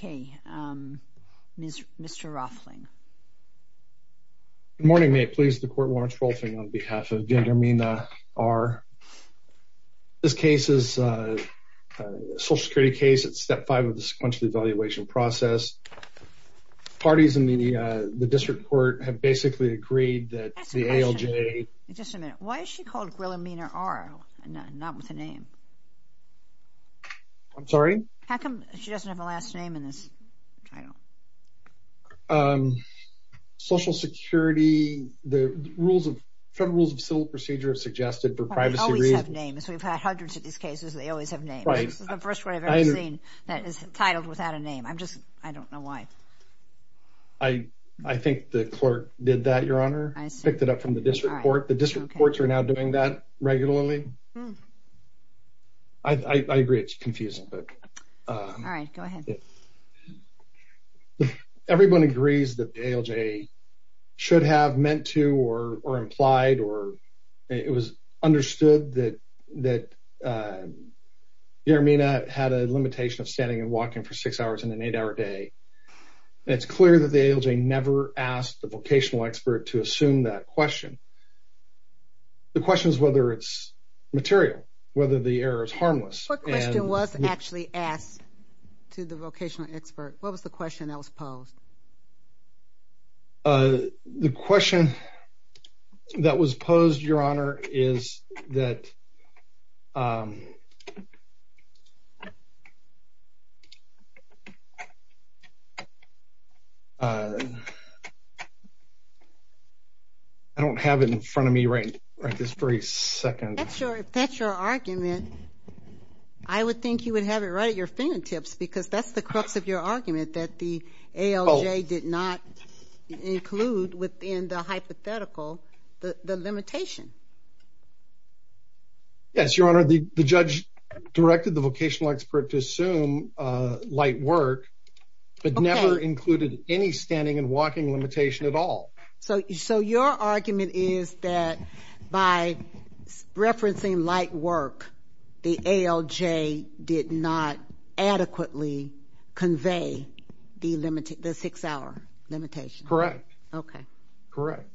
Good morning, may it please the Court, Lawrence Rolfing, on behalf of Guilermina R. This case is a Social Security case. It's Step 5 of the sequential evaluation process. Parties in the district court have basically agreed that the ALJ... I'm sorry? How come she doesn't have a last name in this? I don't. Um, Social Security, the rules of... Federal Rules of Civil Procedure have suggested for privacy reasons... We always have names. We've had hundreds of these cases. They always have names. Right. This is the first one I've ever seen that is titled without a name. I'm just... I don't know why. I think the clerk did that, Your Honor. I see. Picked it up from the district court. The district courts are now doing that regularly. I agree it's confusing, but... All right, go ahead. Everyone agrees that the ALJ should have meant to or implied or it was understood that Guilermina had a limitation of standing and walking for six hours in an eight-hour day. It's clear that the ALJ never asked the vocational expert to assume that question. The question is whether it's material, whether the error is harmless. What question was actually asked to the vocational expert? What was the question that was posed? Uh, the question that was posed, Your Honor, is that... I don't have it in front of me right this very second. If that's your argument, I would think you would have it right at your fingertips because that's the crux of your Yes, Your Honor, the judge directed the vocational expert to assume light work but never included any standing and walking limitation at all. So your argument is that by referencing light work, the ALJ did not adequately convey the six-hour limitation? Correct. Okay. Correct.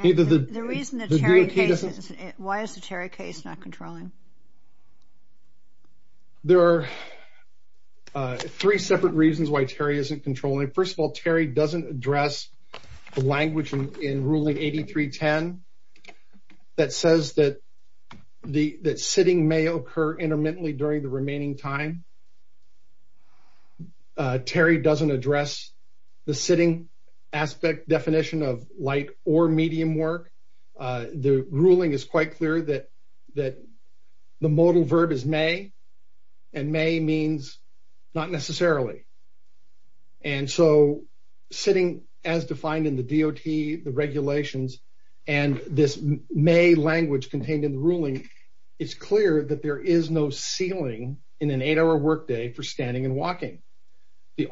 The reason that Terry... Why is the Terry case not controlling? There are three separate reasons why Terry isn't controlling. First of all, Terry doesn't address the language in Ruling 8310 that says that sitting may occur intermittently during the remaining time. Terry doesn't address the aspect definition of light or medium work. The ruling is quite clear that the modal verb is may and may means not necessarily. And so sitting as defined in the DOT, the regulations, and this may language contained in the ruling, it's clear that there is no ceiling in an eight-hour workday for standing and walking as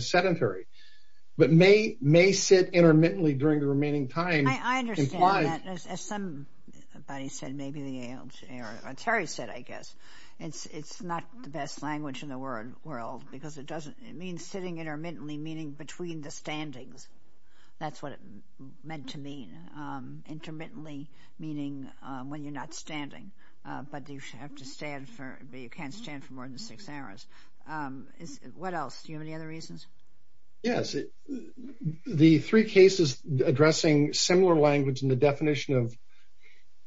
sedentary. But may sit intermittently during the remaining time... I understand that. As somebody said, maybe the ALJ or Terry said, I guess, it's not the best language in the world because it doesn't... It means sitting intermittently, meaning between the standings. That's what it meant to mean. Intermittently meaning when you're not standing, but you have to stand for... You can't stand for more than six hours. What else? Do you have any other reasons? Yes. The three cases addressing similar language in the definition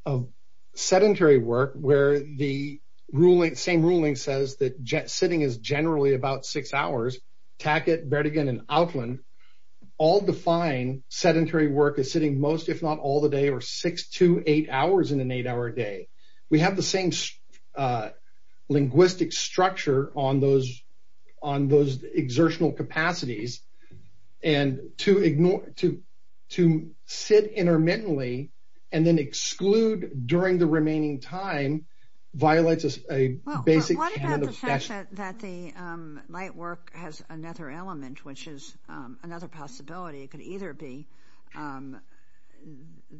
of sedentary work where the same ruling says that sitting is generally about six hours, Tackett, Bertigan, and Outland, all define sedentary work as sitting most, if not all the day, or six to eight hours in an eight-hour day. We have the same linguistic structure on those exertional capacities, and to sit intermittently and then exclude during the remaining time violates a basic... What about the fact that the light work has another element, which is another possibility? It could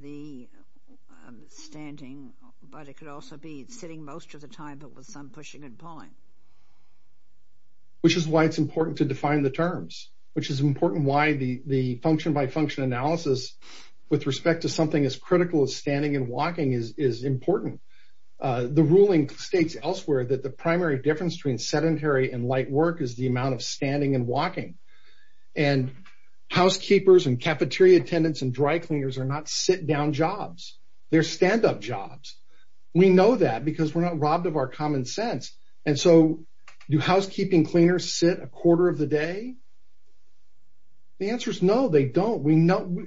be standing, but it could also be sitting most of the time, but with some pushing and pulling. Which is why it's important to define the terms, which is important why the function-by-function analysis with respect to something as critical as standing and walking is important. The ruling states elsewhere that the primary difference between sedentary and light work is the amount of standing and walking, and housekeepers and cafeteria attendants and dry cleaners are not sit-down jobs. They're stand-up jobs. We know that because we're not robbed of our common sense, and so do housekeeping cleaners sit a quarter of the day? The answer is no, they don't. We know...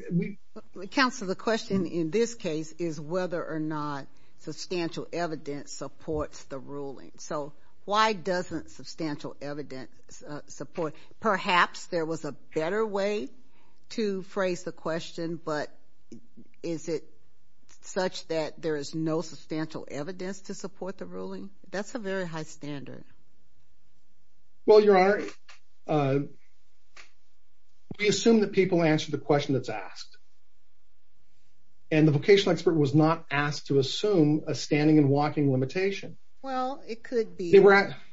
Counselor, the question in this case is whether or not substantial evidence supports the ruling, so why doesn't substantial evidence support? Perhaps there was a better way to phrase the Is it such that there is no substantial evidence to support the ruling? That's a very high standard. Well, Your Honor, we assume that people answer the question that's asked, and the vocational expert was not asked to assume a standing and walking limitation. Well, it could be.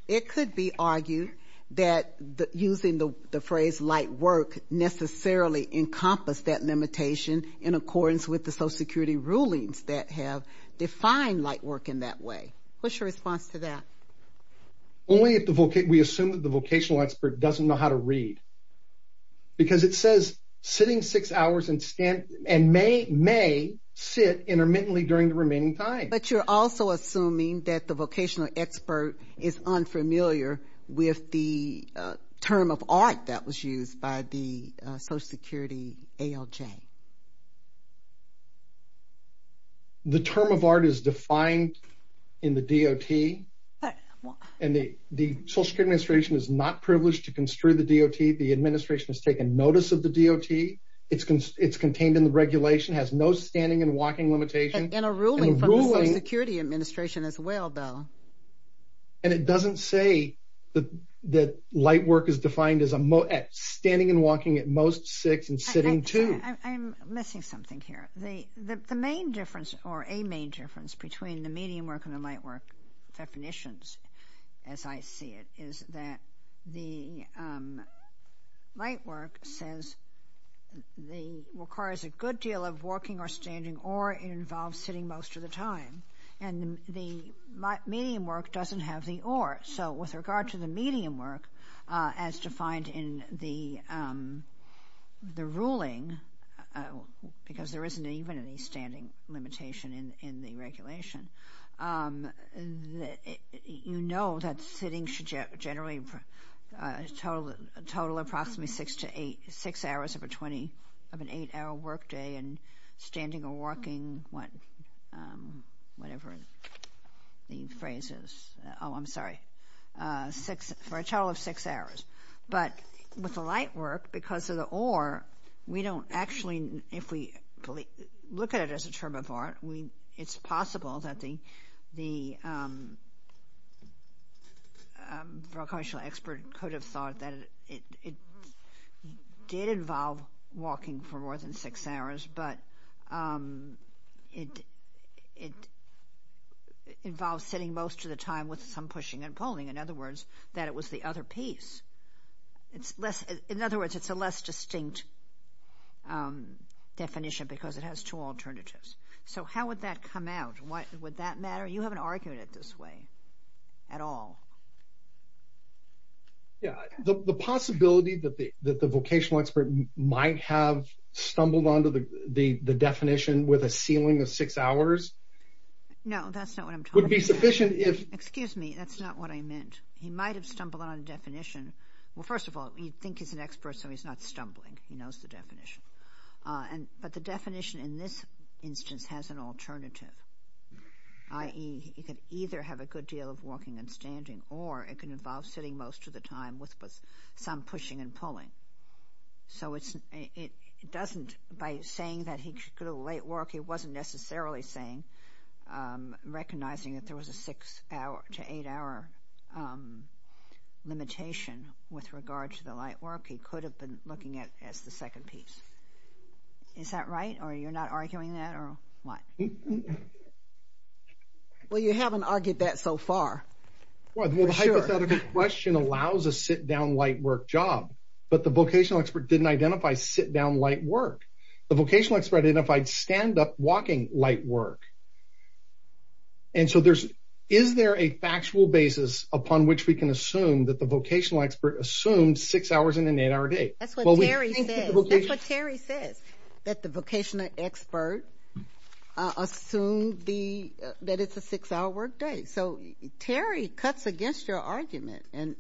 It could be argued that using the phrase light work necessarily encompassed that limitation in accordance with the Social Security rulings that have defined light work in that way. What's your response to that? Only if we assume that the vocational expert doesn't know how to read, because it says sitting six hours and may sit intermittently during the remaining time. But you're also assuming that the vocational expert is unfamiliar with the term of art that the Social Security ALJ. The term of art is defined in the DOT, and the Social Security Administration is not privileged to construe the DOT. The administration has taken notice of the DOT. It's contained in the regulation, has no standing and walking limitation. And a ruling from the Social Security Administration as well, Bill. And it doesn't say that light work is defined as standing and walking at most six and sitting two. I'm missing something here. The main difference, or a main difference, between the medium work and the light work definitions, as I see it, is that the light work requires a good deal of walking or standing, or it involves sitting most of the time. And the medium work doesn't have the or. So with regard to the medium work, as defined in the ruling, because there isn't even any standing limitation in the regulation, you know that sitting should generally total approximately six hours of an eight-hour work day and standing or walking, whatever the phrase is. Oh, I'm sorry, for a total of six hours. But with the light work, because of the or, we don't actually, if we look at it as a term of art, it's possible that the recreational expert could have thought that it did involve walking for more than six hours, but it involves sitting most of the time with some pushing and pulling. In other words, that it was the other piece. In other words, it's a less distinct definition because it has two alternatives. So how would that come out? Would that matter? You haven't argued it this way at all. Yeah, the possibility that the vocational expert might have stumbled onto the definition with a ceiling of six hours. No, that's not what I'm talking about. Excuse me, that's not what I meant. He might have stumbled on a definition. Well, first of all, you'd think he's an expert, so he's not stumbling. He knows the definition. But the definition in this instance has an or it can involve sitting most of the time with some pushing and pulling. So it doesn't, by saying that he could have light work, he wasn't necessarily saying, recognizing that there was a six hour to eight hour limitation with regard to the light work, he could have been looking at as the second piece. Is that right? Or you're not arguing that or what? Well, you haven't argued that so far. Well, the hypothetical question allows a sit down light work job, but the vocational expert didn't identify sit down light work. The vocational expert identified stand up walking light work. And so there's, is there a factual basis upon which we can assume that the vocational expert assumed six hours in an eight hour day? That's what Terry says, that the vocational expert assumed the, that it's a six hour work day. So Terry cuts against your argument, and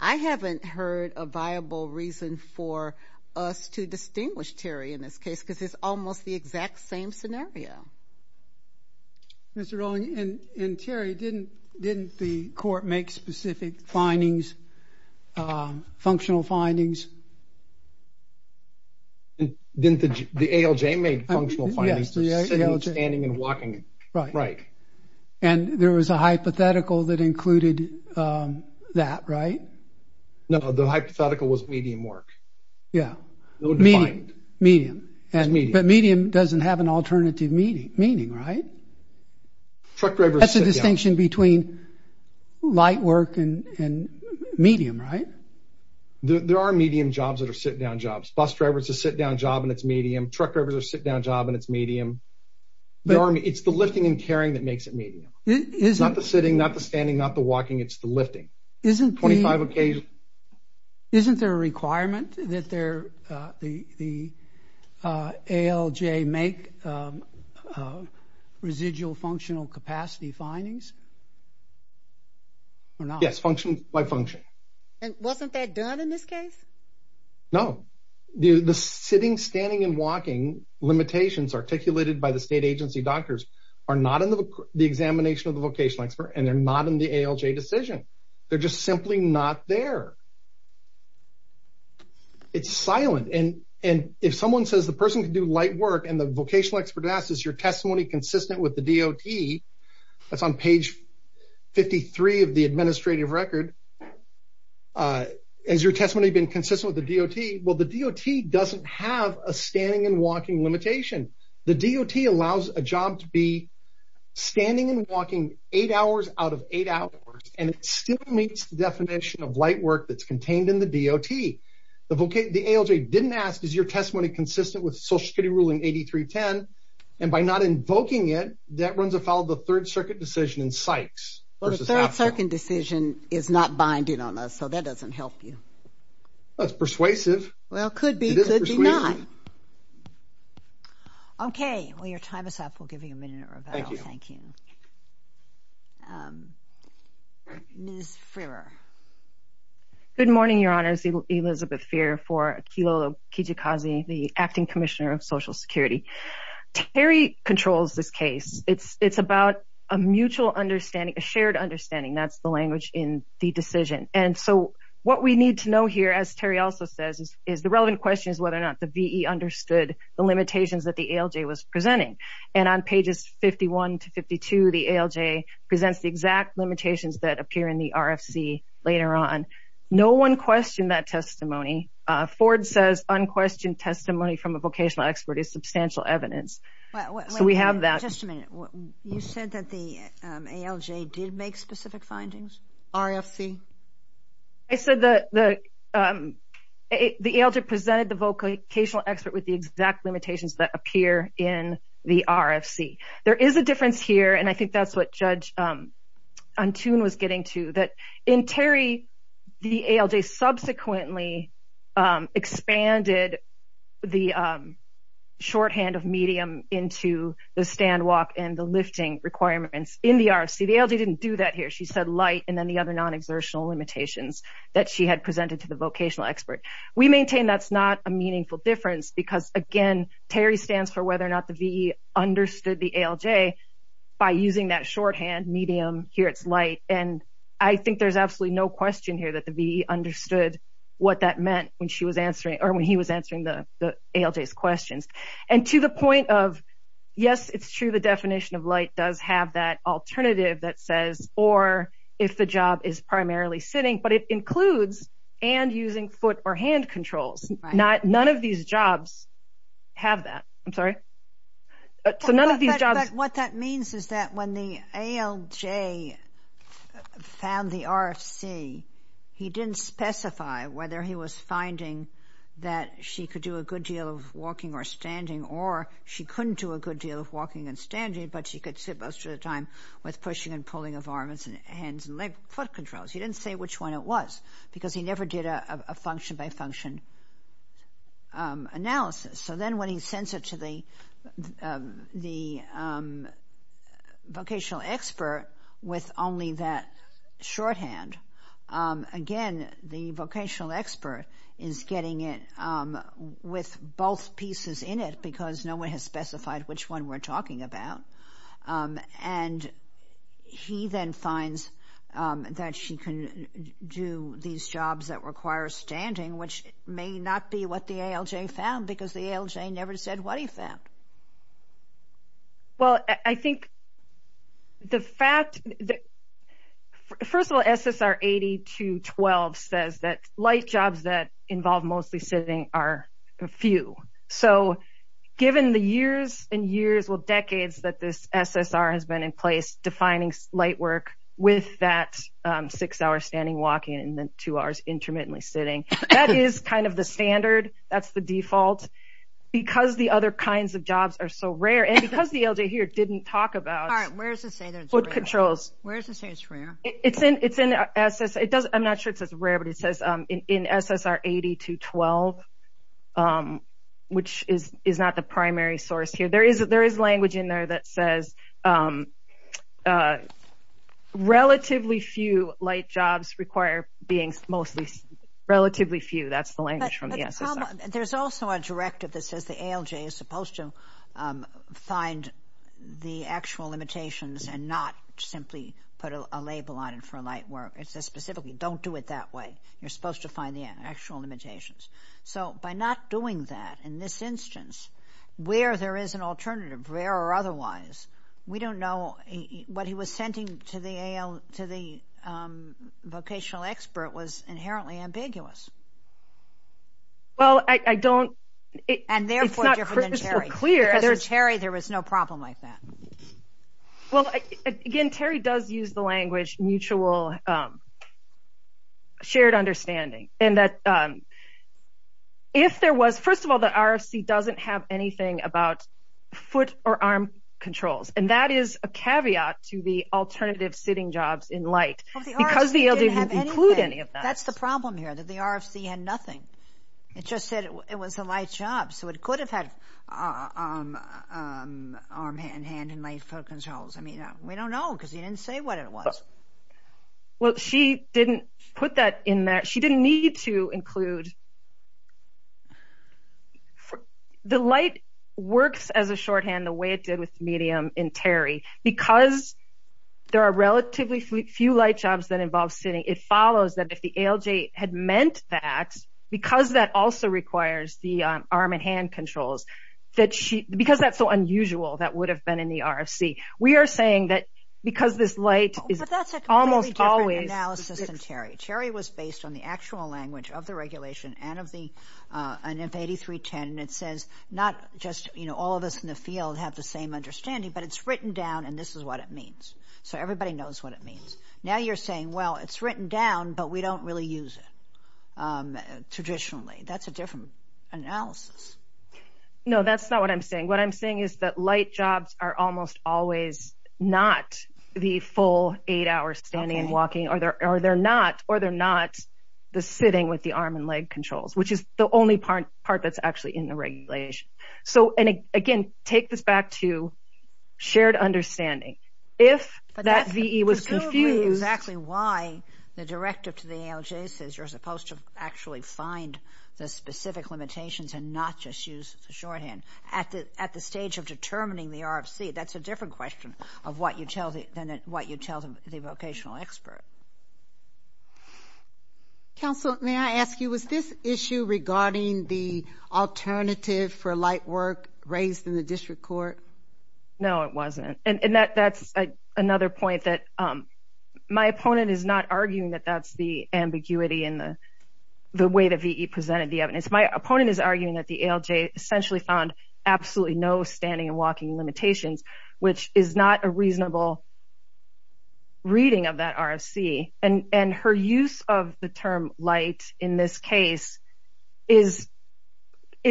I haven't heard a viable reason for us to distinguish Terry in this case, because it's almost the exact same scenario. Mr. Rowling, and Terry, didn't the court make specific findings, functional findings? Didn't the ALJ make functional findings? Yes, the ALJ. Standing and walking. Right. And there was a hypothetical that included that, right? No, the hypothetical was medium work. Yeah. Medium. Medium. But medium doesn't have an alternative meaning, right? That's a distinction between light work and medium, right? There are medium jobs that are sit down jobs. Bus drivers, a sit down job, and it's medium. Truck drivers, a sit down job, and it's medium. It's the lifting and carrying that makes it medium. It's not the sitting, not the standing, not the walking, it's the lifting. Isn't there a requirement that the ALJ make a residual functional capacity findings? Or not? Yes, function by function. And wasn't that done in this case? No. The sitting, standing, and walking limitations articulated by the state agency doctors are not in the examination of the vocational expert, and they're not in the ALJ decision. They're just simply not there. It's silent. And if someone says the person can do light work, and the vocational expert asks, is your testimony consistent with the DOT? That's on page 53 of the administrative record. Has your testimony been consistent with the DOT? Well, the DOT doesn't have a standing and walking limitation. The DOT allows a job to be standing and walking eight hours out of eight hours, and it still meets the definition of light work that's contained in the DOT. The ALJ didn't ask, is your testimony consistent with Social Security Ruling 8310? And by not invoking it, that runs afoul of the Third Circuit decision in Sykes. Well, the Third Circuit decision is not binding on us, so that doesn't help you. That's persuasive. Well, could be, could be not. Okay. Well, your time is up. We'll give you a minute, Ravel. Thank you. Ms. Frerer. Good morning, Your Honors. Elizabeth Frerer for Kilo Kijikazi, the Acting Commissioner of Social Security. Terry controls this case. It's about a mutual understanding, a shared understanding. That's the language in the decision. And so, what we need to know here, as Terry also says, is the relevant question is whether or not the VE understood the limitations that the ALJ was presenting. And on pages 51 to 52, the ALJ presents the exact limitations that appear in the RFC later on. No one questioned that testimony. Ford says, unquestioned testimony from a vocational expert is substantial evidence. So, we have that. Just a minute. You said that the ALJ did make specific findings? RFC? I said that the ALJ presented the vocational expert with the exact limitations that appear in the RFC. There is a difference here, and I think that's what Judge Antoon was getting to, that in Terry, the ALJ subsequently expanded the shorthand of medium into the stand walk and the lifting requirements in the RFC. The ALJ didn't do that here. She said light and then the other non-exertional limitations that she had presented to the vocational expert. We maintain that's not a meaningful difference because, again, Terry stands for whether or not the VE understood the ALJ by using that shorthand medium, here it's light. And I think there's absolutely no question here that the VE understood what that meant when she was answering or when he was answering the ALJ's questions. And to the point of, yes, it's true the definition of light does have that alternative that says, or if the job is primarily sitting, but it includes and using foot or hand controls. None of these jobs have that. I'm sorry. So, none of these jobs... But what that means is that when the ALJ found the RFC, he didn't specify whether he was finding that she could do a good deal of walking or standing, or she couldn't do a good deal of walking and standing, but she could sit most of the time with pushing and pulling of arms and hands and leg foot controls. He didn't say which one it was because he never did a function by function analysis. So then when he sends it to the vocational expert with only that shorthand, again, the vocational expert is getting it with both pieces in it because no one has specified which one we're talking about. And he then finds that she can do these jobs that require standing, which may not be what the ALJ found because the ALJ never said what he found. Well, I think the fact... First of all, SSR 8212 says that light jobs that involve mostly sitting are few. So, given the years and years, well, decades that this SSR has been in place, defining light work with that six-hour standing, walking, and then two hours intermittently sitting, that is kind of the standard. That's the default. Because the other kinds of jobs are so rare, and because the ALJ here didn't talk about... All right, where does it say that it's rare? Foot controls. Where does it say it's rare? It's in SS... I'm not sure it says rare, but it says in SSR 8212, which is not the primary source here. There is language in there that says relatively few light jobs require being mostly... Relatively few, that's the language from the SSR. There's also a directive that says the ALJ is supposed to find the actual limitations and not simply put a label on it for light work. It says specifically, don't do it that way. You're supposed to find the actual limitations. So, by not doing that in this instance, where there is an alternative, rare or otherwise, we don't know... What he was sending to the AL... to the vocational expert was inherently ambiguous. Well, I don't... And therefore, it's not crystal clear. Because in Terry, there was no problem like that. Well, again, Terry does use the language mutual, shared understanding, and that if there was... First of all, the RFC doesn't have anything about foot or arm controls, and that is a caveat to the alternative sitting jobs in light, because the ALJ didn't include any of that. That's the problem here, that the RFC had nothing. It just said it was a light job, so it could have had arm and hand in light foot controls. I mean, we don't know, because he didn't say what it was. Well, she didn't put that in there. She didn't need to include... The light works as a shorthand the way it did with medium in Terry, because there are relatively few light jobs that involve sitting. It follows that if the ALJ had meant that, because that also requires the arm and hand controls, because that's so unusual, that would have been in the RFC. We are saying that because this light is almost always... But that's a completely different analysis than Terry. Terry was based on the actual language of the regulation and of the NF8310, and it says not just all of us in the field have the same understanding, but it's written down, and this is what it means. So everybody knows what it means. Now you're saying, well, it's written down, but we don't really use it traditionally. That's a different analysis. No, that's not what I'm saying. What I'm saying is that light jobs are almost always not the full eight hours standing and walking, or they're not the sitting with the arm and leg controls, which is the only part that's actually in the regulation. So, and again, take this back to understanding. If that VE was confused... But that's presumably exactly why the directive to the ALJ says you're supposed to actually find the specific limitations and not just use the shorthand. At the stage of determining the RFC, that's a different question of what you tell the vocational expert. Counsel, may I ask you, was this issue regarding the alternative for light work raised in the district court? No, it wasn't. And that's another point that my opponent is not arguing that that's the ambiguity in the way that VE presented the evidence. My opponent is arguing that the ALJ essentially found absolutely no standing and walking limitations, which is not a reasonable reading of that RFC. And her use of the term light in this case is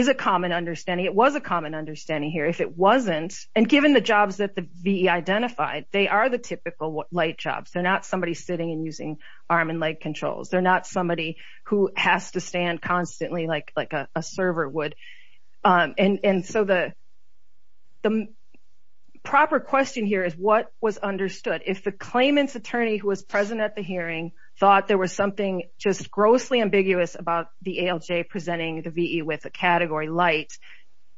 a common understanding. It was a common understanding here. If it wasn't, and given the jobs that the VE identified, they are the typical light jobs. They're not somebody sitting and using arm and leg controls. They're not somebody who has to stand constantly like a server would. And so the proper question here is what was understood? If the claimant's present at the hearing thought there was something just grossly ambiguous about the ALJ presenting the VE with a category light,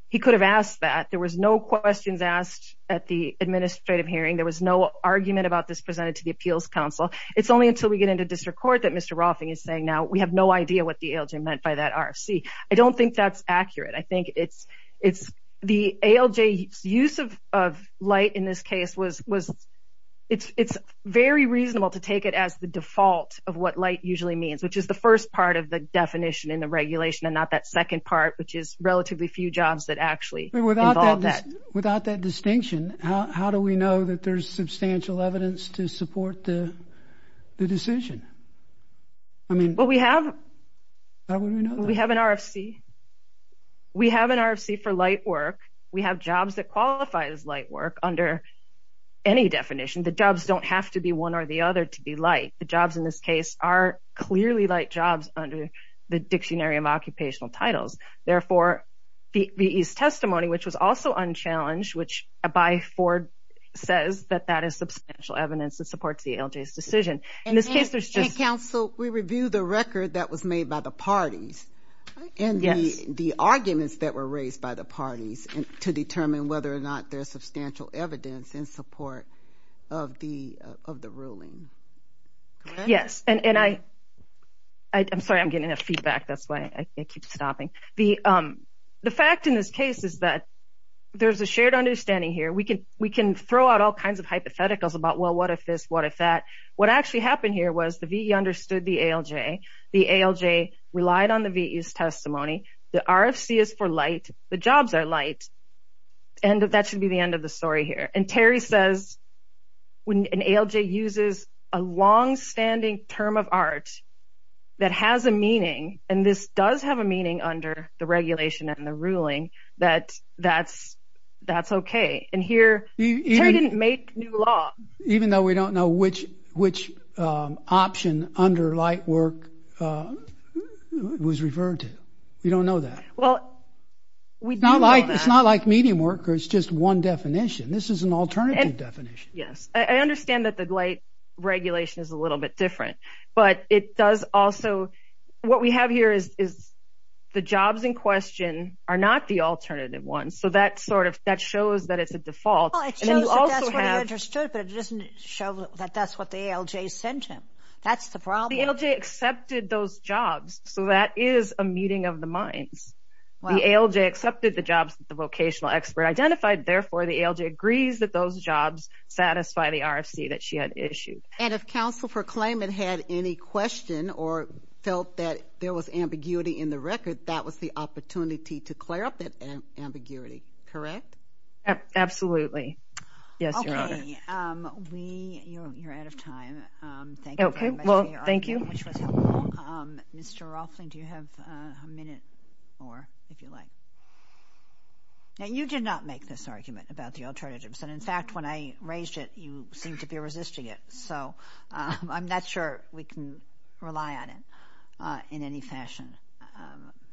he could have asked that. There was no questions asked at the administrative hearing. There was no argument about this presented to the appeals counsel. It's only until we get into district court that Mr. Roffing is saying now, we have no idea what the ALJ meant by that RFC. I don't think that's accurate. I think it's the ALJ's use of light in this case was, it's very reasonable to take it as the default of what light usually means, which is the first part of the definition in the regulation and not that second part, which is relatively few jobs that actually involve that. Without that distinction, how do we know that there's substantial evidence to support the decision? Well, we have an RFC. We have an RFC for light work. We have jobs that qualify as light work under any definition. The jobs don't have to be one or the other to be light. The jobs in this case are clearly light jobs under the Dictionary of Occupational Titles. Therefore, VE's testimony, which was also unchallenged, which by Ford says that that is substantial evidence that supports the ALJ's decision. In this case, there's just... And counsel, we review the record that was made by the parties and the arguments that were raised by the parties to determine whether or not there's substantial evidence in support of the ruling. Yes, and I'm sorry, I'm getting enough feedback. That's why I keep stopping. The fact in this case is that there's a shared understanding here. We can throw out all kinds of hypotheticals about, well, what if this? What if that? What actually happened here was the VE understood the ALJ. The ALJ relied on the VE's testimony. The RFC is for light. The jobs are light. And that should be the end of the story here. And Terry says, when an ALJ uses a longstanding term of art that has a meaning, and this does have a meaning under the regulation and the ruling, that that's okay. And here, Terry didn't make new law. Even though we don't know which option under light work was referred to. We don't know that. Well, we do know that. It's not like medium work, or it's just one definition. This is an alternative definition. Yes. I understand that the light regulation is a little bit different, but it does also... the jobs in question are not the alternative ones. So that shows that it's a default. Well, it shows that that's what he understood, but it doesn't show that that's what the ALJ sent him. That's the problem. The ALJ accepted those jobs. So that is a muting of the minds. The ALJ accepted the jobs that the vocational expert identified. Therefore, the ALJ agrees that those jobs satisfy the RFC that she had issued. And if counsel for claimant had any question or felt that there was ambiguity in the record, that was the opportunity to clear up that ambiguity, correct? Absolutely. Yes, Your Honor. Okay. We... You're out of time. Thank you very much for your argument, which was helpful. Mr. Rolfling, do you have a minute more, if you like? Now, you did not make this argument about the alternatives. And in fact, when I raised it, you seemed to be resisting it. So I'm not sure we can rely on it in any fashion.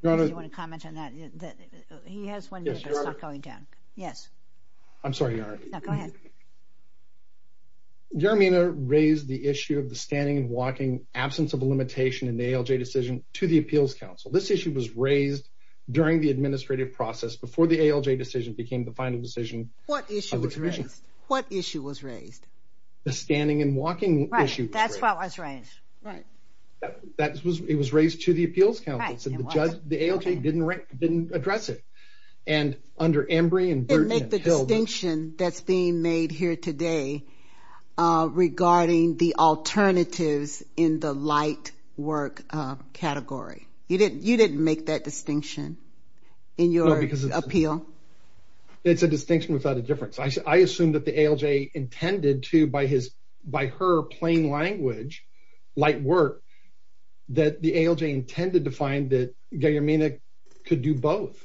Your Honor... Do you want to comment on that? He has one minute, but it's not going down. Yes, Your Honor. I'm sorry, Your Honor. No, go ahead. Your Honor, I mean, I raised the issue of the standing and walking absence of a limitation in the ALJ decision to the appeals counsel. This issue was raised during the administrative process before the ALJ decision became the final decision of the commission. What issue was raised? What issue was raised? The standing and walking issue was raised. Right. That's what was raised. Right. It was raised to the appeals counsel. Right. So the ALJ didn't address it. And under Embree and Burton and Hill... You didn't make the distinction that's being made here today regarding the alternatives in the light work category. You didn't make that distinction in your appeal? It's a distinction without a difference. I assume that the ALJ intended to, by her plain language, light work, that the ALJ intended to find that Gayamina could do both,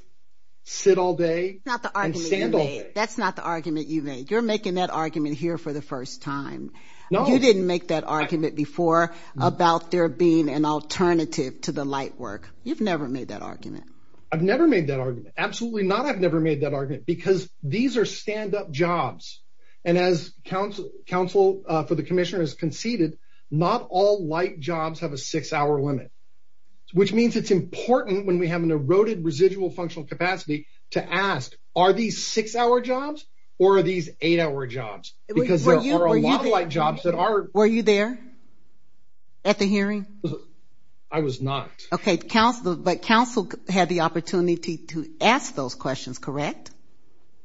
sit all day... That's not the argument you made. That's not the argument you made. You're making that argument here for the first time. You didn't make that argument before about there being an alternative to the light work. You've never made that argument. I've never made that argument. Absolutely not. I've never made that argument because these are stand-up jobs. And as counsel for the commissioner has conceded, not all light jobs have a six-hour limit, which means it's important when we have an eroded residual functional capacity to ask, are these six-hour jobs or are these eight-hour jobs? Because there are a lot of light jobs that are... Were you there at the hearing? I was not. Okay. But counsel had the opportunity to ask those questions, correct?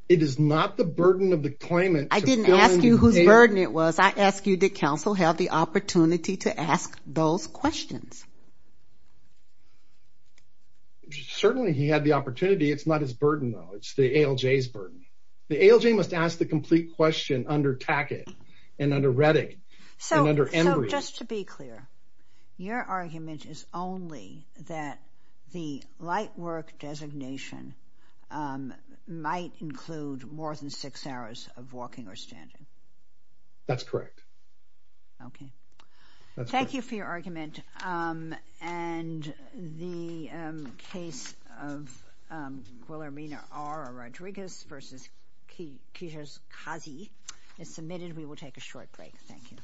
It is not the burden of the claimant... I didn't ask you whose burden it was. I asked you, did counsel have the opportunity to ask those questions? Certainly, he had the opportunity. It's not his burden, though. It's the ALJ's burden. The ALJ must ask the complete question under Tackett and under Redding and under Embry. So just to be clear, your argument is only that the light work designation might include more than six hours of walking or standing. That's correct. Okay. Thank you for your argument. And the case of Guillermina R. Rodriguez versus Kirshkazi is submitted. We will take a short break. Thank you.